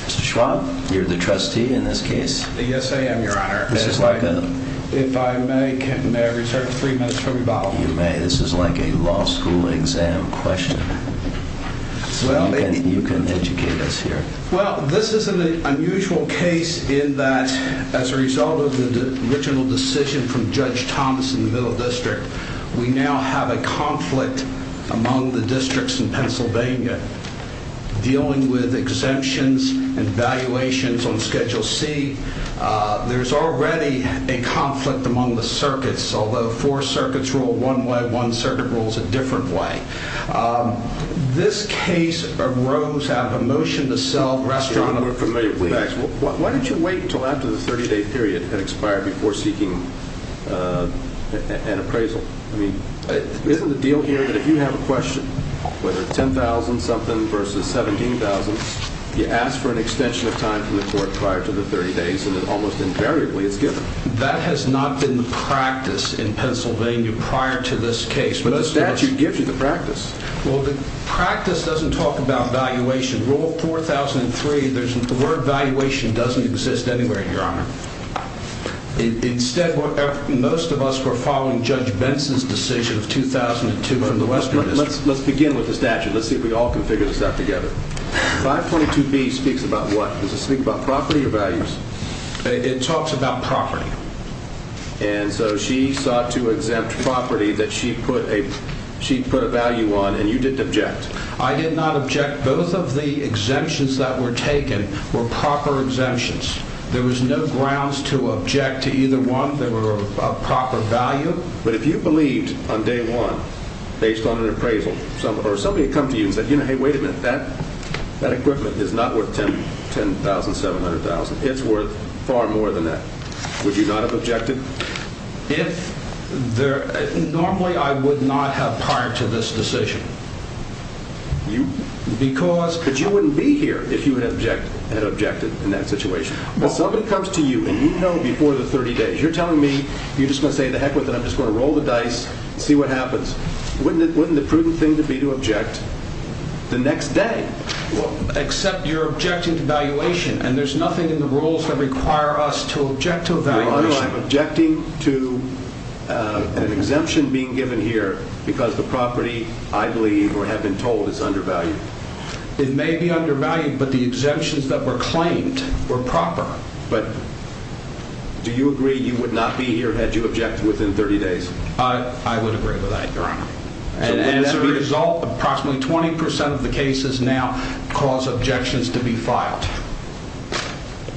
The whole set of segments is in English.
Mr. Schwab, you're the trustee in this case? Yes, I am, your honor. This is like a... If I may, may I reserve three minutes for rebuttal? You may. This is like a law school exam question. Well... You can educate us here. Well, this is an unusual case in that as a result of the original decision from Judge Thomas in the Middle District, we now have a conflict among the districts in Pennsylvania dealing with exemptions and valuations on Schedule C. There's already a conflict among the circuits, although four circuits rule one way, one circuit rules a different way. This case arose out of a motion to sell restaurant... Your honor, we're familiar with that. Why don't you wait until after the 30-day period had expired before seeking an appraisal? I mean, isn't the deal here that if you have a question, whether it's 10,000-something versus 17,000, you ask for an extension of time from the court prior to the 30 days and then almost invariably it's given? That has not been the practice in Pennsylvania prior to this case, but the statute gives you the practice. Well, the practice doesn't talk about valuation. Rule 4003, the word valuation doesn't exist anywhere, your honor. Instead, most of us were following Judge Benson's decision of 2002 from the Western District. Let's begin with the statute. Let's see if we can all configure this out together. 522B speaks about what? Does it speak about property or values? It talks about property. And so she sought to exempt property that she put a value on and you didn't object? I did not object. Both of the exemptions that were taken were proper exemptions. There was no grounds to object to either one. They were of proper value. But if you believed on day one, based on an appraisal, or somebody had come to you and said, you know, hey, wait a minute, that equipment is not worth 10,000, 700,000. It's worth far more than that. Would you not have objected? Normally, I would not have prior to this decision. But you wouldn't be here if you had objected in that situation. If somebody comes to you and you know before the 30 days, you're telling me, you're just going to say, to heck with it, I'm just going to roll the dice, see what happens. Wouldn't the prudent thing to be to object the next day? Except you're objecting to valuation. And there's nothing in the rules that require us to object to a valuation. Your Honor, I'm objecting to an exemption being given here because the property, I believe, or have been told, is undervalued. It may be undervalued, but the exemptions that were claimed were proper. But do you agree you would not be here had you objected within 30 days? I would agree with that, Your Honor. And as a result, approximately 20% of the cases now cause objections to be filed.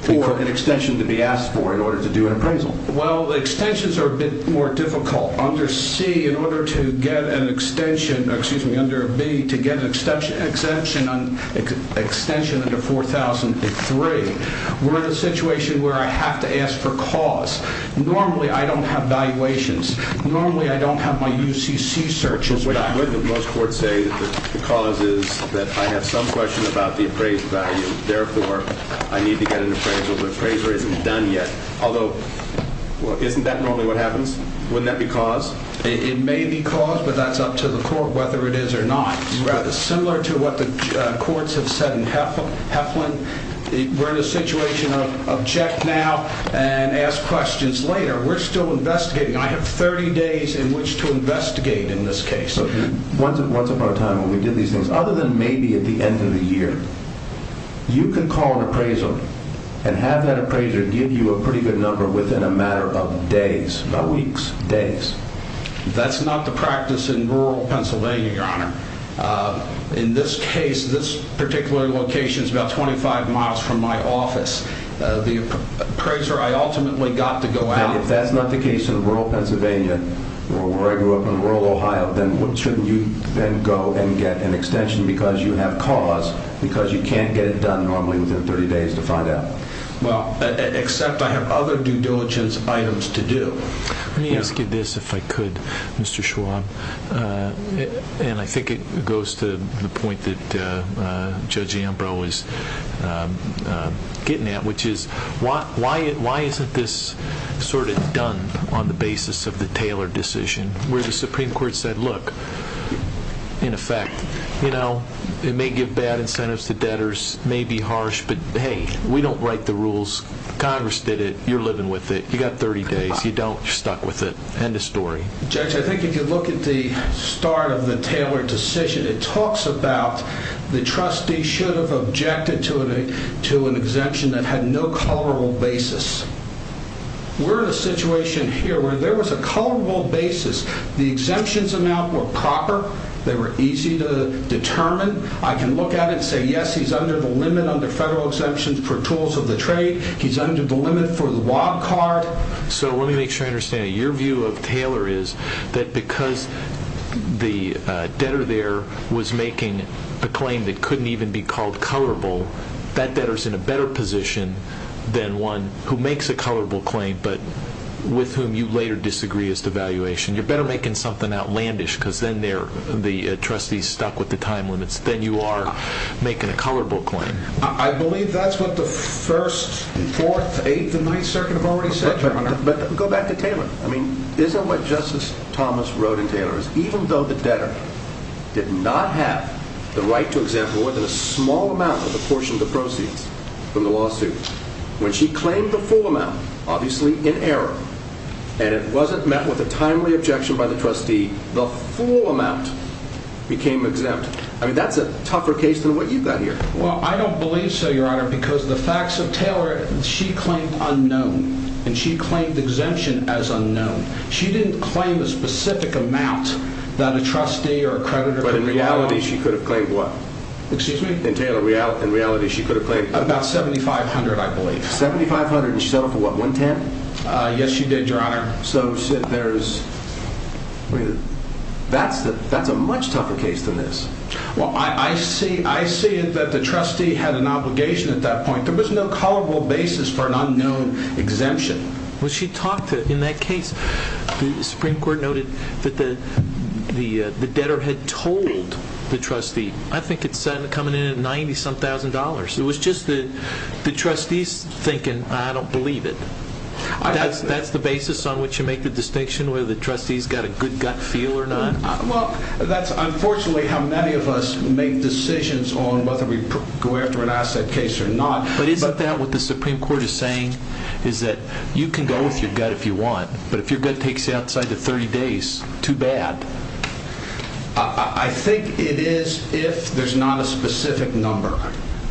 Or an extension to be asked for in order to do an appraisal. Well, the extensions are a bit more difficult. Under C, in order to get an extension, excuse me, under B, to get an exemption under 4003, we're in a situation where I have to ask for cause. Normally, I don't have valuations. Normally, I don't have my UCC searches back. But wouldn't most courts say that the cause is that I have some question about the appraised value. Therefore, I need to get an appraisal. The appraiser isn't done yet. Although, isn't that normally what happens? Wouldn't that be cause? It may be cause, but that's up to the court whether it is or not. Similar to what the courts have said in Heflin, we're in a situation of object now and ask questions later. We're still investigating. I have 30 days in which to investigate in this case. Once upon a time when we did these things, other than maybe at the end of the year, you can call an appraisal and have that appraiser give you a pretty good number within a matter of days. About weeks, days. That's not the practice in rural Pennsylvania, Your Honor. In this case, this particular location is about 25 miles from my office. The appraiser, I ultimately got to go out. If that's not the case in rural Pennsylvania, or where I grew up in rural Ohio, then shouldn't you then go and get an extension because you have cause because you can't get it done normally within 30 days to find out? Except I have other due diligence items to do. Let me ask you this, if I could, Mr. Schwab. I think it goes to the point that Judge Ambrose is getting at, which is why isn't this sort of done on the basis of the Taylor decision, where the Supreme Court said, look, in effect, it may give bad incentives to debtors, it may be harsh, but hey, we don't write the rules. Congress did it, you're living with it. You got 30 days, you don't, you're stuck with it. End of story. Judge, I think if you look at the start of the Taylor decision, it talks about the trustee should have objected to an exemption that had no colorable basis. We're in a situation here where there was a colorable basis. The exemptions amount were proper, they were easy to determine. I can look at it and say, yes, he's under the limit under federal exemptions for tools of the trade. He's under the limit for the log card. So let me make sure I understand it. Your view of Taylor is that because the debtor there was making a claim that couldn't even be called colorable, that debtor's in a better position than one who makes a colorable claim but with whom you later disagree as to valuation. You're better making something outlandish because then the trustee is stuck with the time limits than you are making a colorable claim. I believe that's what the First, Fourth, Eighth, and Ninth Circuit have already said, Your Honor. But go back to Taylor. I mean, isn't what Justice Thomas wrote in Taylor is even though the debtor did not have the right to exempt more than a small amount of the portion of the proceeds from the lawsuit, when she claimed the full amount, obviously in error, and it wasn't met with a timely objection by the trustee, the full amount became exempt. I mean, that's a tougher case than what you've got here. Well, I don't believe so, Your Honor, because the facts of Taylor, she claimed unknown. And she claimed exemption as unknown. She didn't claim a specific amount that a trustee or a creditor could have claimed. But in reality, she could have claimed what? Excuse me? In Taylor, in reality, she could have claimed what? About $7,500, I believe. $7,500, and she settled for what, $110? Yes, she did, Your Honor. So, Sid, that's a much tougher case than this. Well, I see it that the trustee had an obligation at that point. There was no colorable basis for an unknown exemption. Well, she talked to, in that case, the Supreme Court noted that the debtor had told the trustee, I think it's coming in at $90-some-thousand. It was just the trustees thinking, I don't believe it. That's the basis on which you make the distinction whether the trustees got a good gut feel or not? Well, that's unfortunately how many of us make decisions on whether we go after an asset case or not. But isn't that what the Supreme Court is saying is that you can go with your gut if you want, but if your gut takes you outside the 30 days, too bad. I think it is if there's not a specific number.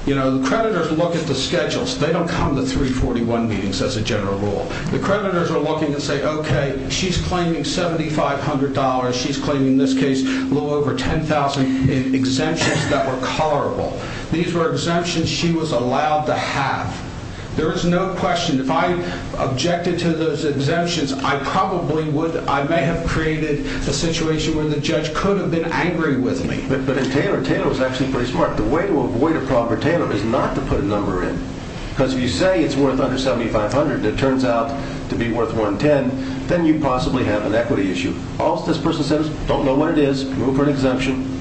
You know, the creditors look at the schedules. They don't come to 341 meetings, as a general rule. The creditors are looking and say, okay, she's claiming $7,500. She's claiming, in this case, a little over $10,000 in exemptions that were colorable. These were exemptions she was allowed to have. There is no question. If I objected to those exemptions, I probably would. I may have created a situation where the judge could have been angry with me. But in Taylor, Taylor was actually pretty smart. The way to probe her, Taylor, is not to put a number in. Because if you say it's worth under $7,500 and it turns out to be worth $110,000, then you possibly have an equity issue. All this person says is, don't know what it is, move for an exemption.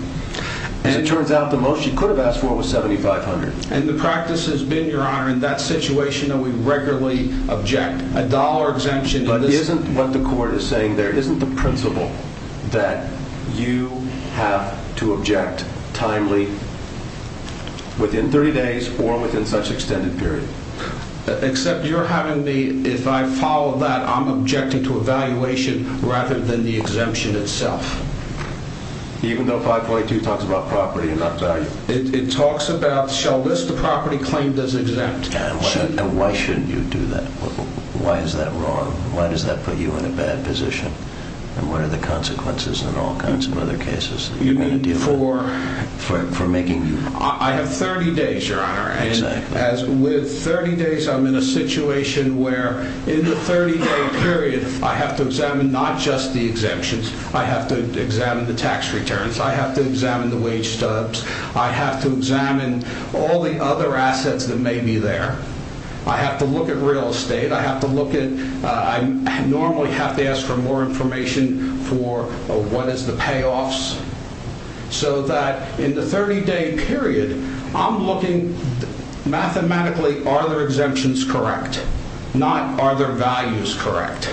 As it turns out, the most she could have asked for was $7,500. And the practice has been, Your Honor, in that situation that we regularly object, a dollar exemption. But isn't what the court is saying there, isn't the principle that you have to object timely within 30 days or within such extended period? Except you're having me, if I follow that, I'm objecting to a valuation rather than the exemption itself. Even though 542 talks about property and not value. It talks about, shall list the property claimed as exempt. And why shouldn't you do that? Why is that wrong? Why does that put you in a bad position? And what are the consequences in all kinds of other cases that you're going to deal with? You mean for? For making you? I have 30 days, Your Honor. Exactly. And as with 30 days, I'm in a situation where in the 30-day period, I have to examine not just the exemptions. I have to examine the tax returns. I have to examine the wage stubs. I have to examine all the other assets that may be there. I have to look at real estate. I have to look at, I normally have to ask for more information for what is the payoffs. So that in the 30-day period, I'm looking mathematically, are their exemptions correct? Not are their values correct?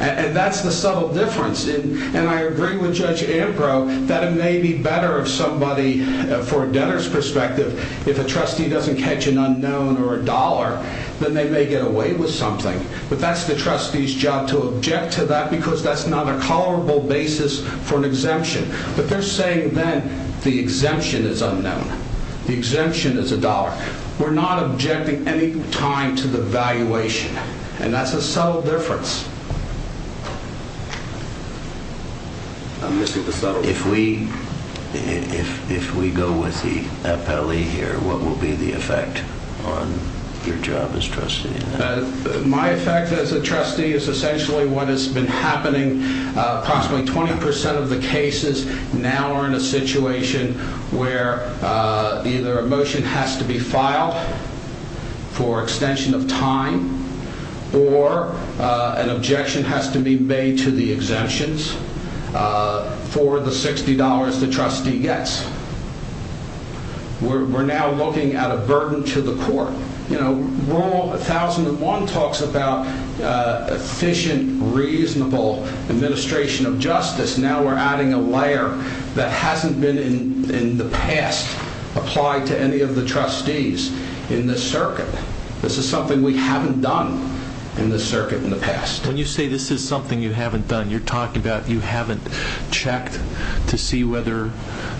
And that's the subtle difference. And I agree with Judge Ambrose that it may be better if somebody, for a debtor's perspective, if a trustee doesn't catch an unknown or a dollar, then they may get away with something. But that's the trustee's job to object to that because that's not a tolerable basis for an exemption. But they're saying then the exemption is unknown. The exemption is a dollar. We're not objecting any time to the valuation. And that's a subtle difference. I'm missing the subtle difference. If we go with the appellee here, what will be the effect on your job as trustee? My effect as a trustee is essentially what has been happening. Approximately 20% of the cases now are in a situation where either a motion has to be filed for extension of time or an objection has to be made to the exemptions for the $60 the trustee gets. We're now looking at a burden to the court. Rule 1001 talks about efficient, reasonable administration of justice. Now we're adding a layer that hasn't been in the past applied to any of the trustees in this circuit. This is something we haven't done in this circuit in the past. When you say this is something you haven't done, you're talking about you haven't checked to see whether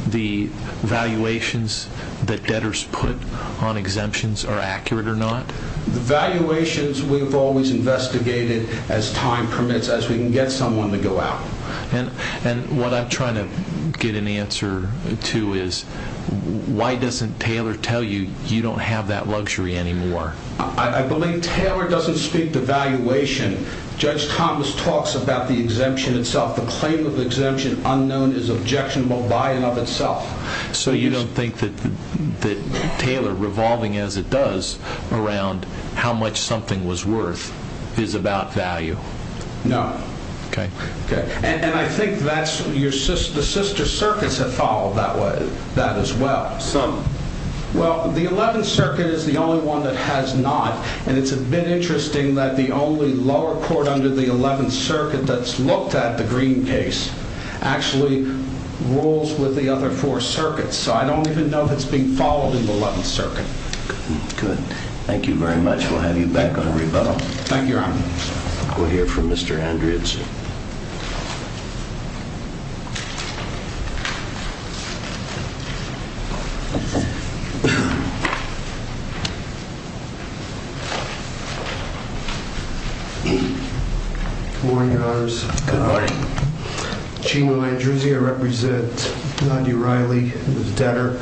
the valuations that debtors put on exemptions are accurate or not? The valuations we've always investigated as time permits, as we can get someone to go out. What I'm trying to get an answer to is why doesn't Taylor tell you you don't have that luxury anymore? I believe Taylor doesn't speak to valuation. Judge Thomas talks about the exemption itself. The claim of exemption unknown is objectionable by and of itself. So you don't think that Taylor, revolving as it does, around how much something was worth is about value? No. And I think the sister circuits have followed that as well. Some. Well, the 11th Circuit is the only one that has not. And it's a bit interesting that the only lower court under the 11th Circuit that's looked at, the Green case, actually rules with the other four circuits. So I don't even know if it's being followed in the 11th Circuit. Good. Thank you very much. Thank you, Your Honor. We'll hear from Mr. Andrews. Good morning, Your Honors. Good morning. I represent Nadia Riley, the debtor.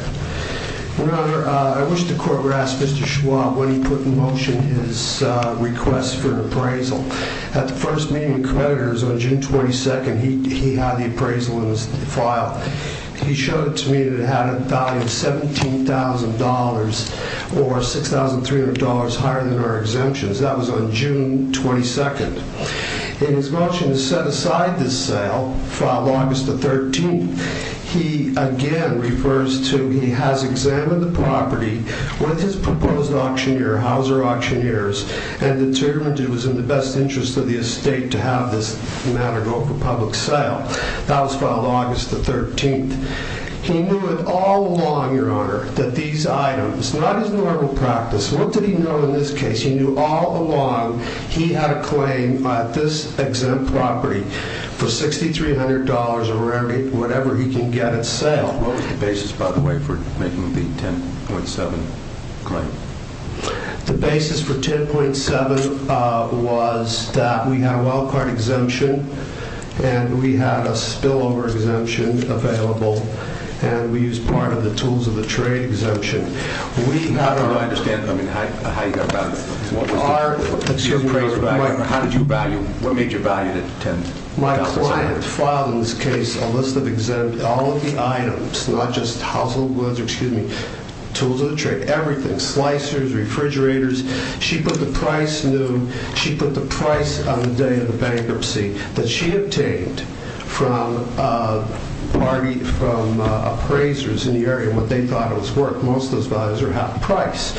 Your Honor, I wish the court would ask Mr. Schwab when he put in motion his request for an appraisal. At the first meeting of creditors on June 22nd, he had the appraisal in his file. He showed it to me that it had a value of $17,000 or $6,300 higher than our exemptions. That was on June 22nd. In his motion to set aside this sale, filed August the 13th, he again refers to he has examined the property with his proposed auctioneer, Hauser Auctioneers, and determined it was in the best interest of the estate to have this matter go for public sale. That was filed August the 13th. He knew it all along, Your Honor, that these items, not his normal practice. What did he know in this case? He knew all along he had a claim at this exempt property for $6,300 or whatever he can get at sale. What was the basis, by the way, for making the 10.7 claim? The basis for 10.7 was that we had a wild card exemption, and we had a spillover exemption available, and we used part of the tools of the trade exemption. I don't understand how you got around this. What was the appraiser value, or how did you value, what made you value the 10.7? My client filed in this case a list of exempt, all of the items, not just household goods, excuse me, tools of the trade, everything, slicers, refrigerators. She put the price on the day of the bankruptcy that she obtained from appraisers in the area, what they thought it was worth. Most of those values are half price.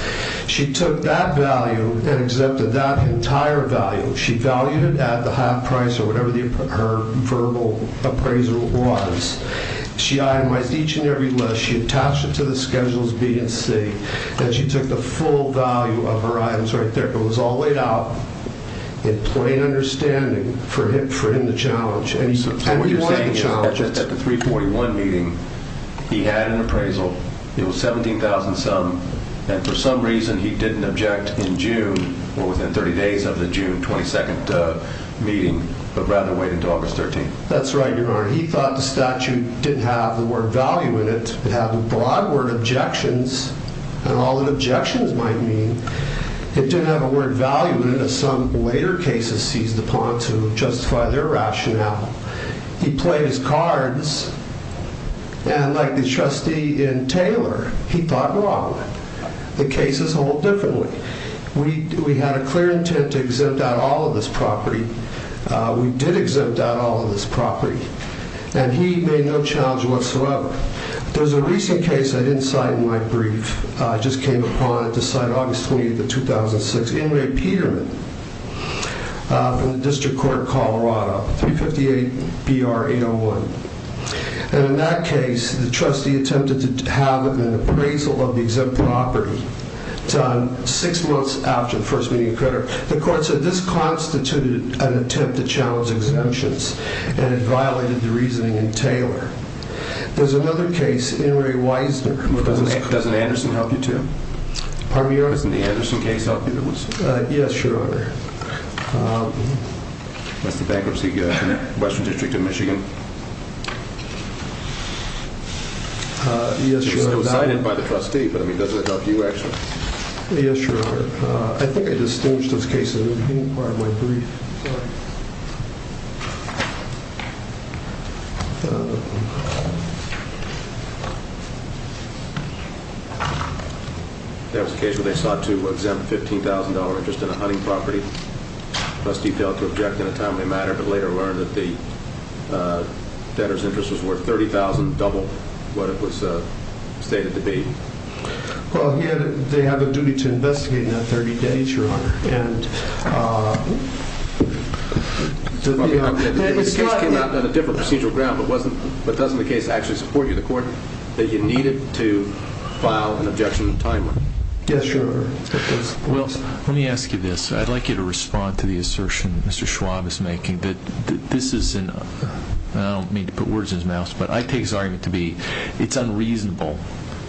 She took that value and exempted that entire value. She valued it at the half price or whatever her verbal appraisal was. She itemized each and every list. She attached it to the schedules B and C, and she took the full value of her items right there. It was all laid out in plain understanding for him to challenge. So what you're saying is that at the 341 meeting, he had an appraisal. It was 17,000-some, and for some reason, he didn't object in June or within 30 days of the June 22nd meeting, but rather waited until August 13th. That's right, Your Honor. He thought the statute didn't have the word value in it. It had the broad word objections, and all that objections might mean. It didn't have a word value in it, as some later cases seized upon to justify their rationale. He played his cards, and like the trustee in Taylor, he thought wrong. The cases hold differently. We had a clear intent to exempt out all of this property. We did exempt out all of this property, and he made no challenge whatsoever. There's a recent case I didn't cite in my brief. I just came upon it to cite August 28th of 2006. In Ray Peterman from the District Court of Colorado, 358-BR-801. And in that case, the trustee attempted to have an appraisal of the exempt property. It's on six months after the first meeting occurred. The court said this constituted an attempt to challenge exemptions, and it violated the reasoning in Taylor. There's another case, in Ray Wisner. Doesn't Anderson help you, too? Pardon me, Your Honor? Doesn't the Anderson case help you? Yes, Your Honor. That's the bankruptcy in the Western District of Michigan. Yes, Your Honor. It was cited by the trustee, but I mean, does it help you, actually? Yes, Your Honor. I think I distinguished those cases in the whole part of my brief. Sorry. There was a case where they sought to exempt a $15,000 interest in a hunting property. The trustee failed to object in a timely manner, but later learned that the debtor's interest was worth $30,000, double what it was stated to be. Well, they have a duty to investigate in that 30 days, Your Honor. The case came out on a different procedural ground, but doesn't the case actually support you, the court, that you needed to file an objection in a timely manner? Yes, Your Honor. Well, let me ask you this. I'd like you to respond to the assertion that Mr. Schwab is making. I don't mean to put words in his mouth, but I take his argument to be it's unreasonable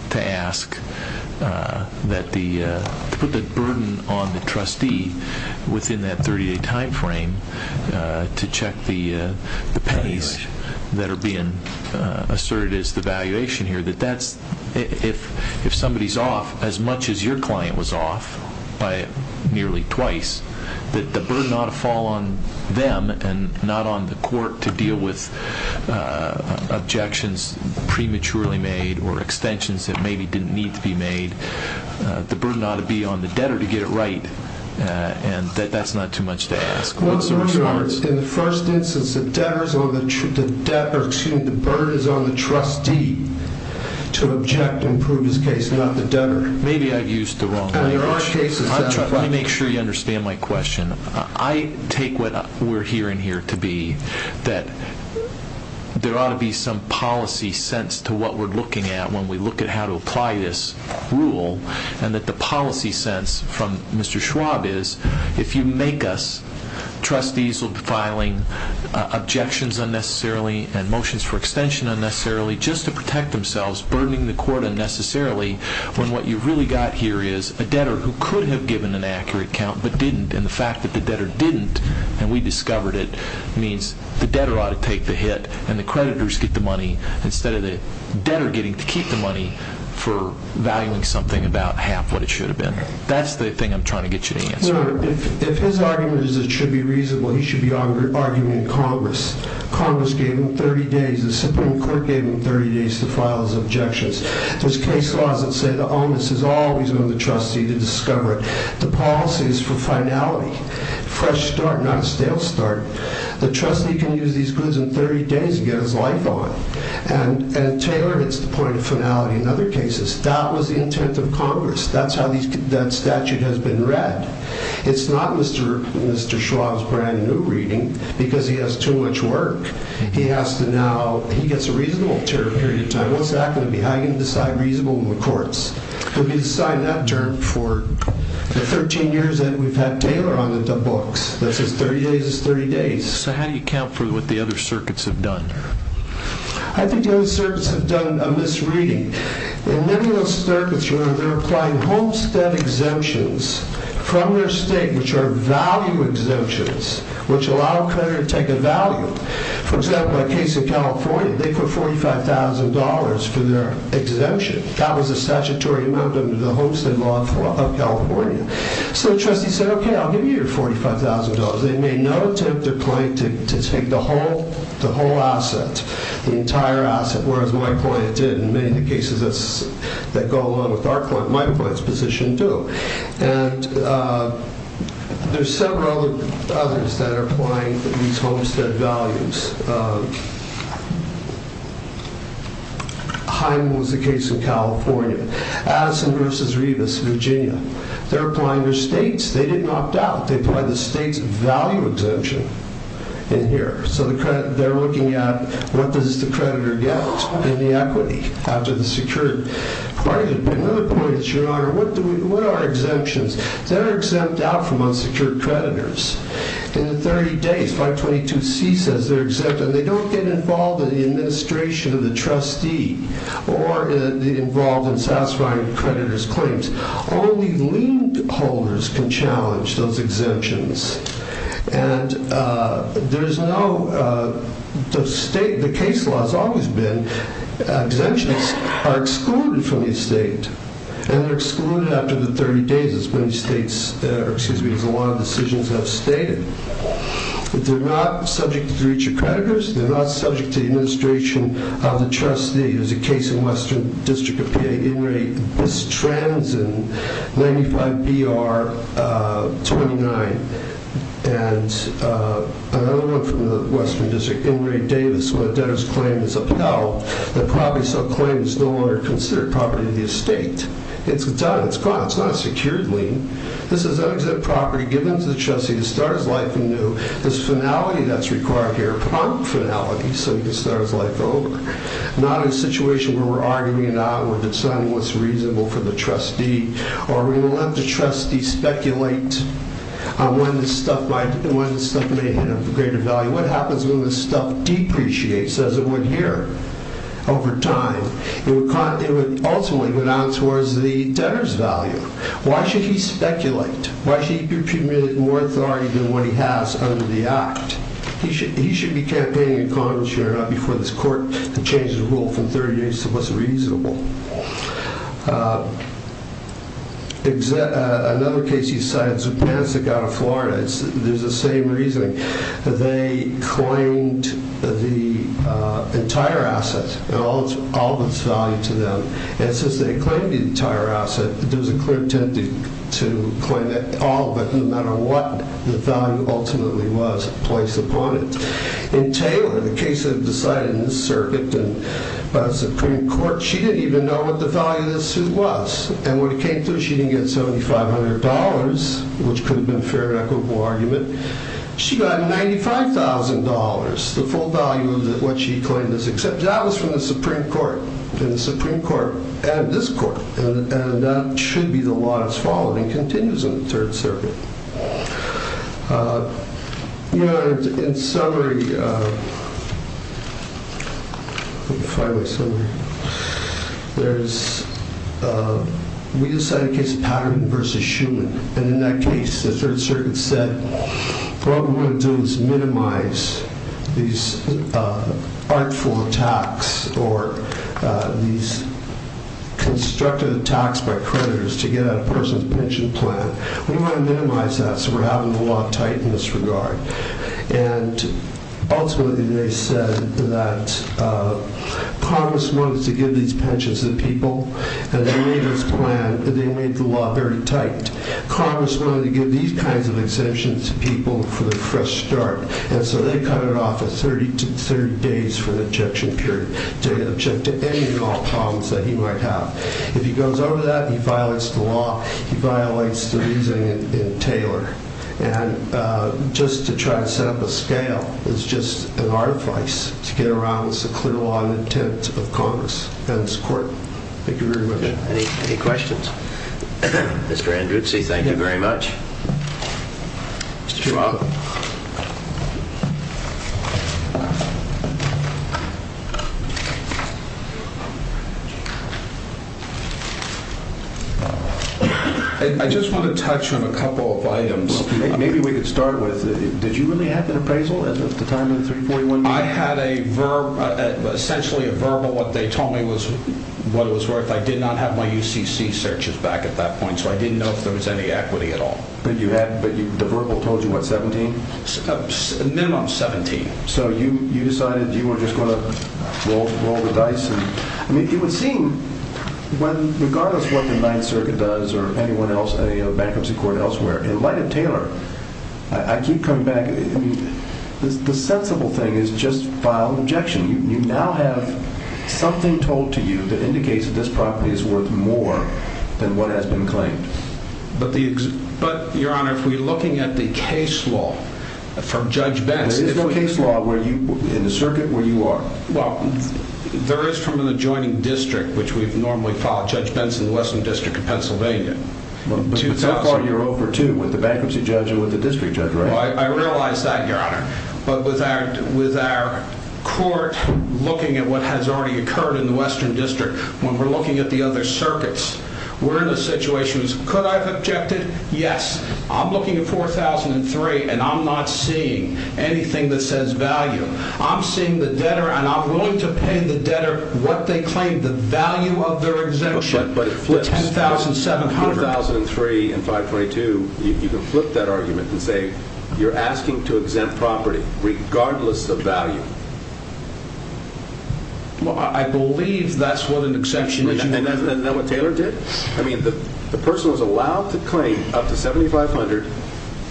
to put the burden on the trustee within that 30-day time frame to check the pay that are being asserted as the valuation here. If somebody's off as much as your client was off by nearly twice, that the burden ought to fall on them and not on the court to deal with objections prematurely made or extensions that maybe didn't need to be made. The burden ought to be on the debtor to get it right, and that's not too much to ask. In the first instance, the burden is on the trustee to object and prove his case, not the debtor. Maybe I've used the wrong language. Let me make sure you understand my question. I take what we're hearing here to be that there ought to be some policy sense to what we're looking at when we look at how to apply this rule, and that the policy sense from Mr. Schwab is if you make us trustees filing objections unnecessarily and motions for extension unnecessarily just to protect themselves, burdening the court unnecessarily when what you've really got here is a debtor who could have given an accurate count but didn't, and the fact that the debtor didn't and we discovered it means the debtor ought to take the hit and the creditors get the money instead of the debtor getting to keep the money for valuing something about half what it should have been. That's the thing I'm trying to get you to answer. If his argument is it should be reasonable, he should be arguing in Congress. Congress gave him 30 days. The Supreme Court gave him 30 days to file his objections. There's case laws that say the onus is always on the trustee to discover it. The policy is for finality, fresh start, not a stale start. The trustee can use these goods in 30 days and get his life on it. And Taylor hits the point of finality in other cases. That was the intent of Congress. That's how that statute has been read. It's not Mr. Schwab's brand new reading because he has too much work. He gets a reasonable period of time. What's that going to be? How are you going to decide reasonable in the courts? You'll be deciding that term for the 13 years that we've had Taylor on the books. That's his 30 days. So how do you account for what the other circuits have done? I think the other circuits have done a misreading. In many of those circuits, they're applying homestead exemptions from their state, which are value exemptions, which allow a creditor to take a value. For example, a case in California, they put $45,000 for their exemption. That was a statutory amount under the homestead law of California. So the trustee said, okay, I'll give you your $45,000. They made no attempt to take the whole asset, the entire asset, whereas my client did in many of the cases that go along with my client's position, too. And there's several others that are applying these homestead values. Hyman was the case in California. Addison v. Revis, Virginia. They're applying their states. They didn't opt out. They applied the state's value exemption in here. So they're looking at what does the creditor get in the equity after the secured market. But another point, Your Honor, what are exemptions? They're exempt out from unsecured creditors. In the 30 days, 522C says they're exempt, and they don't get involved in the administration of the trustee or involved in satisfying creditors' claims. Only lien holders can challenge those exemptions. And there is no state. The case law has always been exemptions are excluded from the estate, and they're excluded after the 30 days, as many states, or excuse me, as a lot of decisions have stated. They're not subject to each of creditors. They're not subject to the administration of the trustee. There's a case in Western District of PA. Inray Bistranson, 95BR29. And another one from the Western District, Inray Davis, where a debtor's claim is upheld. The property subclaim is no longer considered property of the estate. It's gone. It's gone. It's not a secured lien. This is unexempt property given to the trustee to start his life anew. This finality that's required here, prompt finality, so he can start his life over. Not in a situation where we're arguing it out, or deciding what's reasonable for the trustee, or we will let the trustee speculate on when this stuff might, when this stuff may have greater value. What happens when this stuff depreciates as it would here over time? It would ultimately go down towards the debtor's value. Why should he speculate? Why should he accumulate more authority than what he has under the act? He should be campaigning in Congress here, not before this court changes the rule from 30 days to what's reasonable. Another case he cited, Zupanisic out of Florida. There's the same reasoning. They claimed the entire asset, all of its value to them. And since they claimed the entire asset, there was a clear intent to claim all of it, no matter what the value ultimately was placed upon it. In Taylor, the case that was decided in this circuit, by the Supreme Court, she didn't even know what the value of this suit was. And what it came to, she didn't get $7,500, which could have been a fair and equitable argument. She got $95,000, the full value of what she claimed, except that was from the Supreme Court. And the Supreme Court added this court, and that should be the law that's followed, and continues in the Third Circuit. In summary, we decided the case Patterson v. Shuman. And in that case, the Third Circuit said, what we're going to do is minimize these artful attacks, or these constructive attacks by creditors to get at a person's pension plan. We want to minimize that, so we're having the law tightened in this regard. And ultimately, they said that Congress wanted to give these pensions to people, and they made this plan, they made the law very tight. Congress wanted to give these kinds of exemptions to people for the fresh start, and so they cut it off at 30 days for the objection period, to object to any law problems that he might have. If he goes over that, he violates the law, he violates the reasoning in Taylor. And just to try to set up a scale is just an artifice to get around this clear law and intent of Congress and this court. Thank you very much. Any questions? Mr. Andrewtsy, thank you very much. Mr. Trump. I just want to touch on a couple of items. Maybe we could start with, did you really have an appraisal at the time of the 341? I had essentially a verbal. What they told me was what it was worth. I did not have my UCC searches back at that point, so I didn't know if there was any equity at all. But the verbal told you, what, 17? A minimum of 17. So you decided you were just going to roll the dice. It would seem, regardless of what the Ninth Circuit does or anyone else, any bankruptcy court elsewhere, in light of Taylor, I keep coming back, the sensible thing is just file an objection. You now have something told to you that indicates that this property is worth more than what has been claimed. But, Your Honor, if we're looking at the case law from Judge Betz. There is no case law in the circuit where you are. Well, there is from an adjoining district, which we've normally filed Judge Betz in the Western District of Pennsylvania. But so far you're over, too, with the bankruptcy judge and with the district judge, right? I realize that, Your Honor. But with our court looking at what has already occurred in the Western District, when we're looking at the other circuits, we're in a situation where it's, could I have objected? Yes. I'm looking at 4003, and I'm not seeing anything that says value. I'm seeing the debtor, and I'm willing to pay the debtor what they claim, the value of their exemption. But it flips. 10,700. 4003 and 522, you can flip that argument and say, you're asking to exempt property, regardless of value. I believe that's what an exception is. Isn't that what Taylor did? I mean, the person was allowed to claim up to 7,500,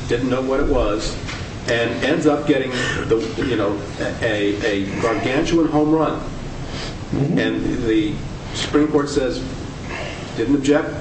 didn't know what it was, and ends up getting, you know, a gargantuan home run. And the Supreme Court says, didn't object,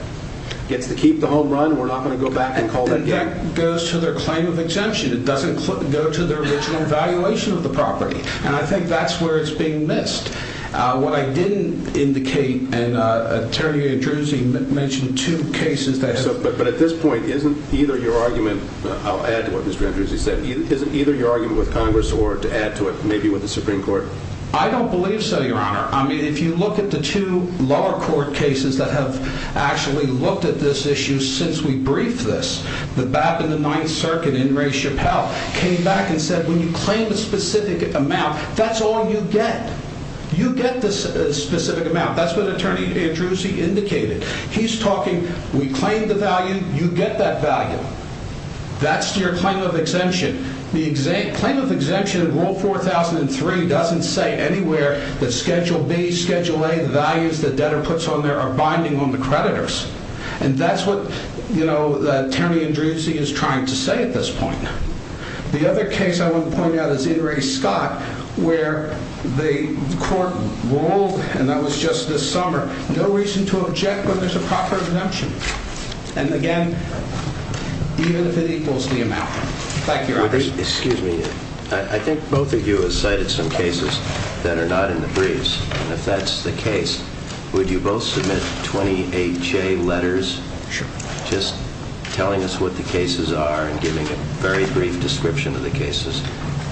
gets to keep the home run, we're not going to go back and call that again. And that goes to their claim of exemption. It doesn't go to their original valuation of the property. And I think that's where it's being missed. What I didn't indicate, and Terry Andrews mentioned two cases that have been But at this point, isn't either your argument, I'll add to what Mr. Andrews has said, isn't either your argument with Congress or to add to it maybe with the Supreme Court? I don't believe so, Your Honor. I mean, if you look at the two lower court cases that have actually looked at this issue since we briefed this, the BAP and the Ninth Circuit in Ray Chappell came back and said, when you claim a specific amount, that's all you get. You get this specific amount. That's what Attorney Andrews indicated. He's talking, we claim the value, you get that value. That's your claim of exemption. The claim of exemption in Rule 4003 doesn't say anywhere that Schedule B, Schedule A, the values that debtor puts on there are binding on the creditors. And that's what, you know, Attorney Andrews is trying to say at this point. The other case I want to point out is Ittery Scott, where the court ruled, and that was just this summer, no reason to object when there's a proper exemption. And again, even if it equals the amount. Thank you, Your Honor. Excuse me. I think both of you have cited some cases that are not in the briefs. And if that's the case, would you both submit 28J letters? Sure. Just telling us what the cases are and giving a very brief description of the cases.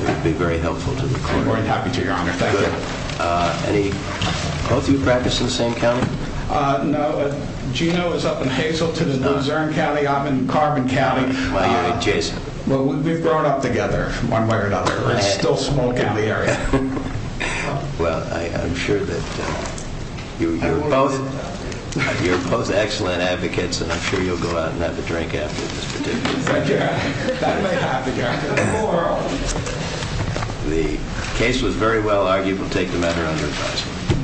It would be very helpful to the court. We're more than happy to, Your Honor. Thank you. Both of you practice in the same county? No. Gino is up in Hazleton. He's up in Zurn County. I'm in Carbon County. Why are you in adjacent? Well, we've grown up together, one way or another. We still smoke in the area. Well, I'm sure that you're both excellent advocates, and I'm sure you'll go out and have a drink after this particular session. That may happen, Your Honor. The case was very well argued. We'll take the matter under advisory.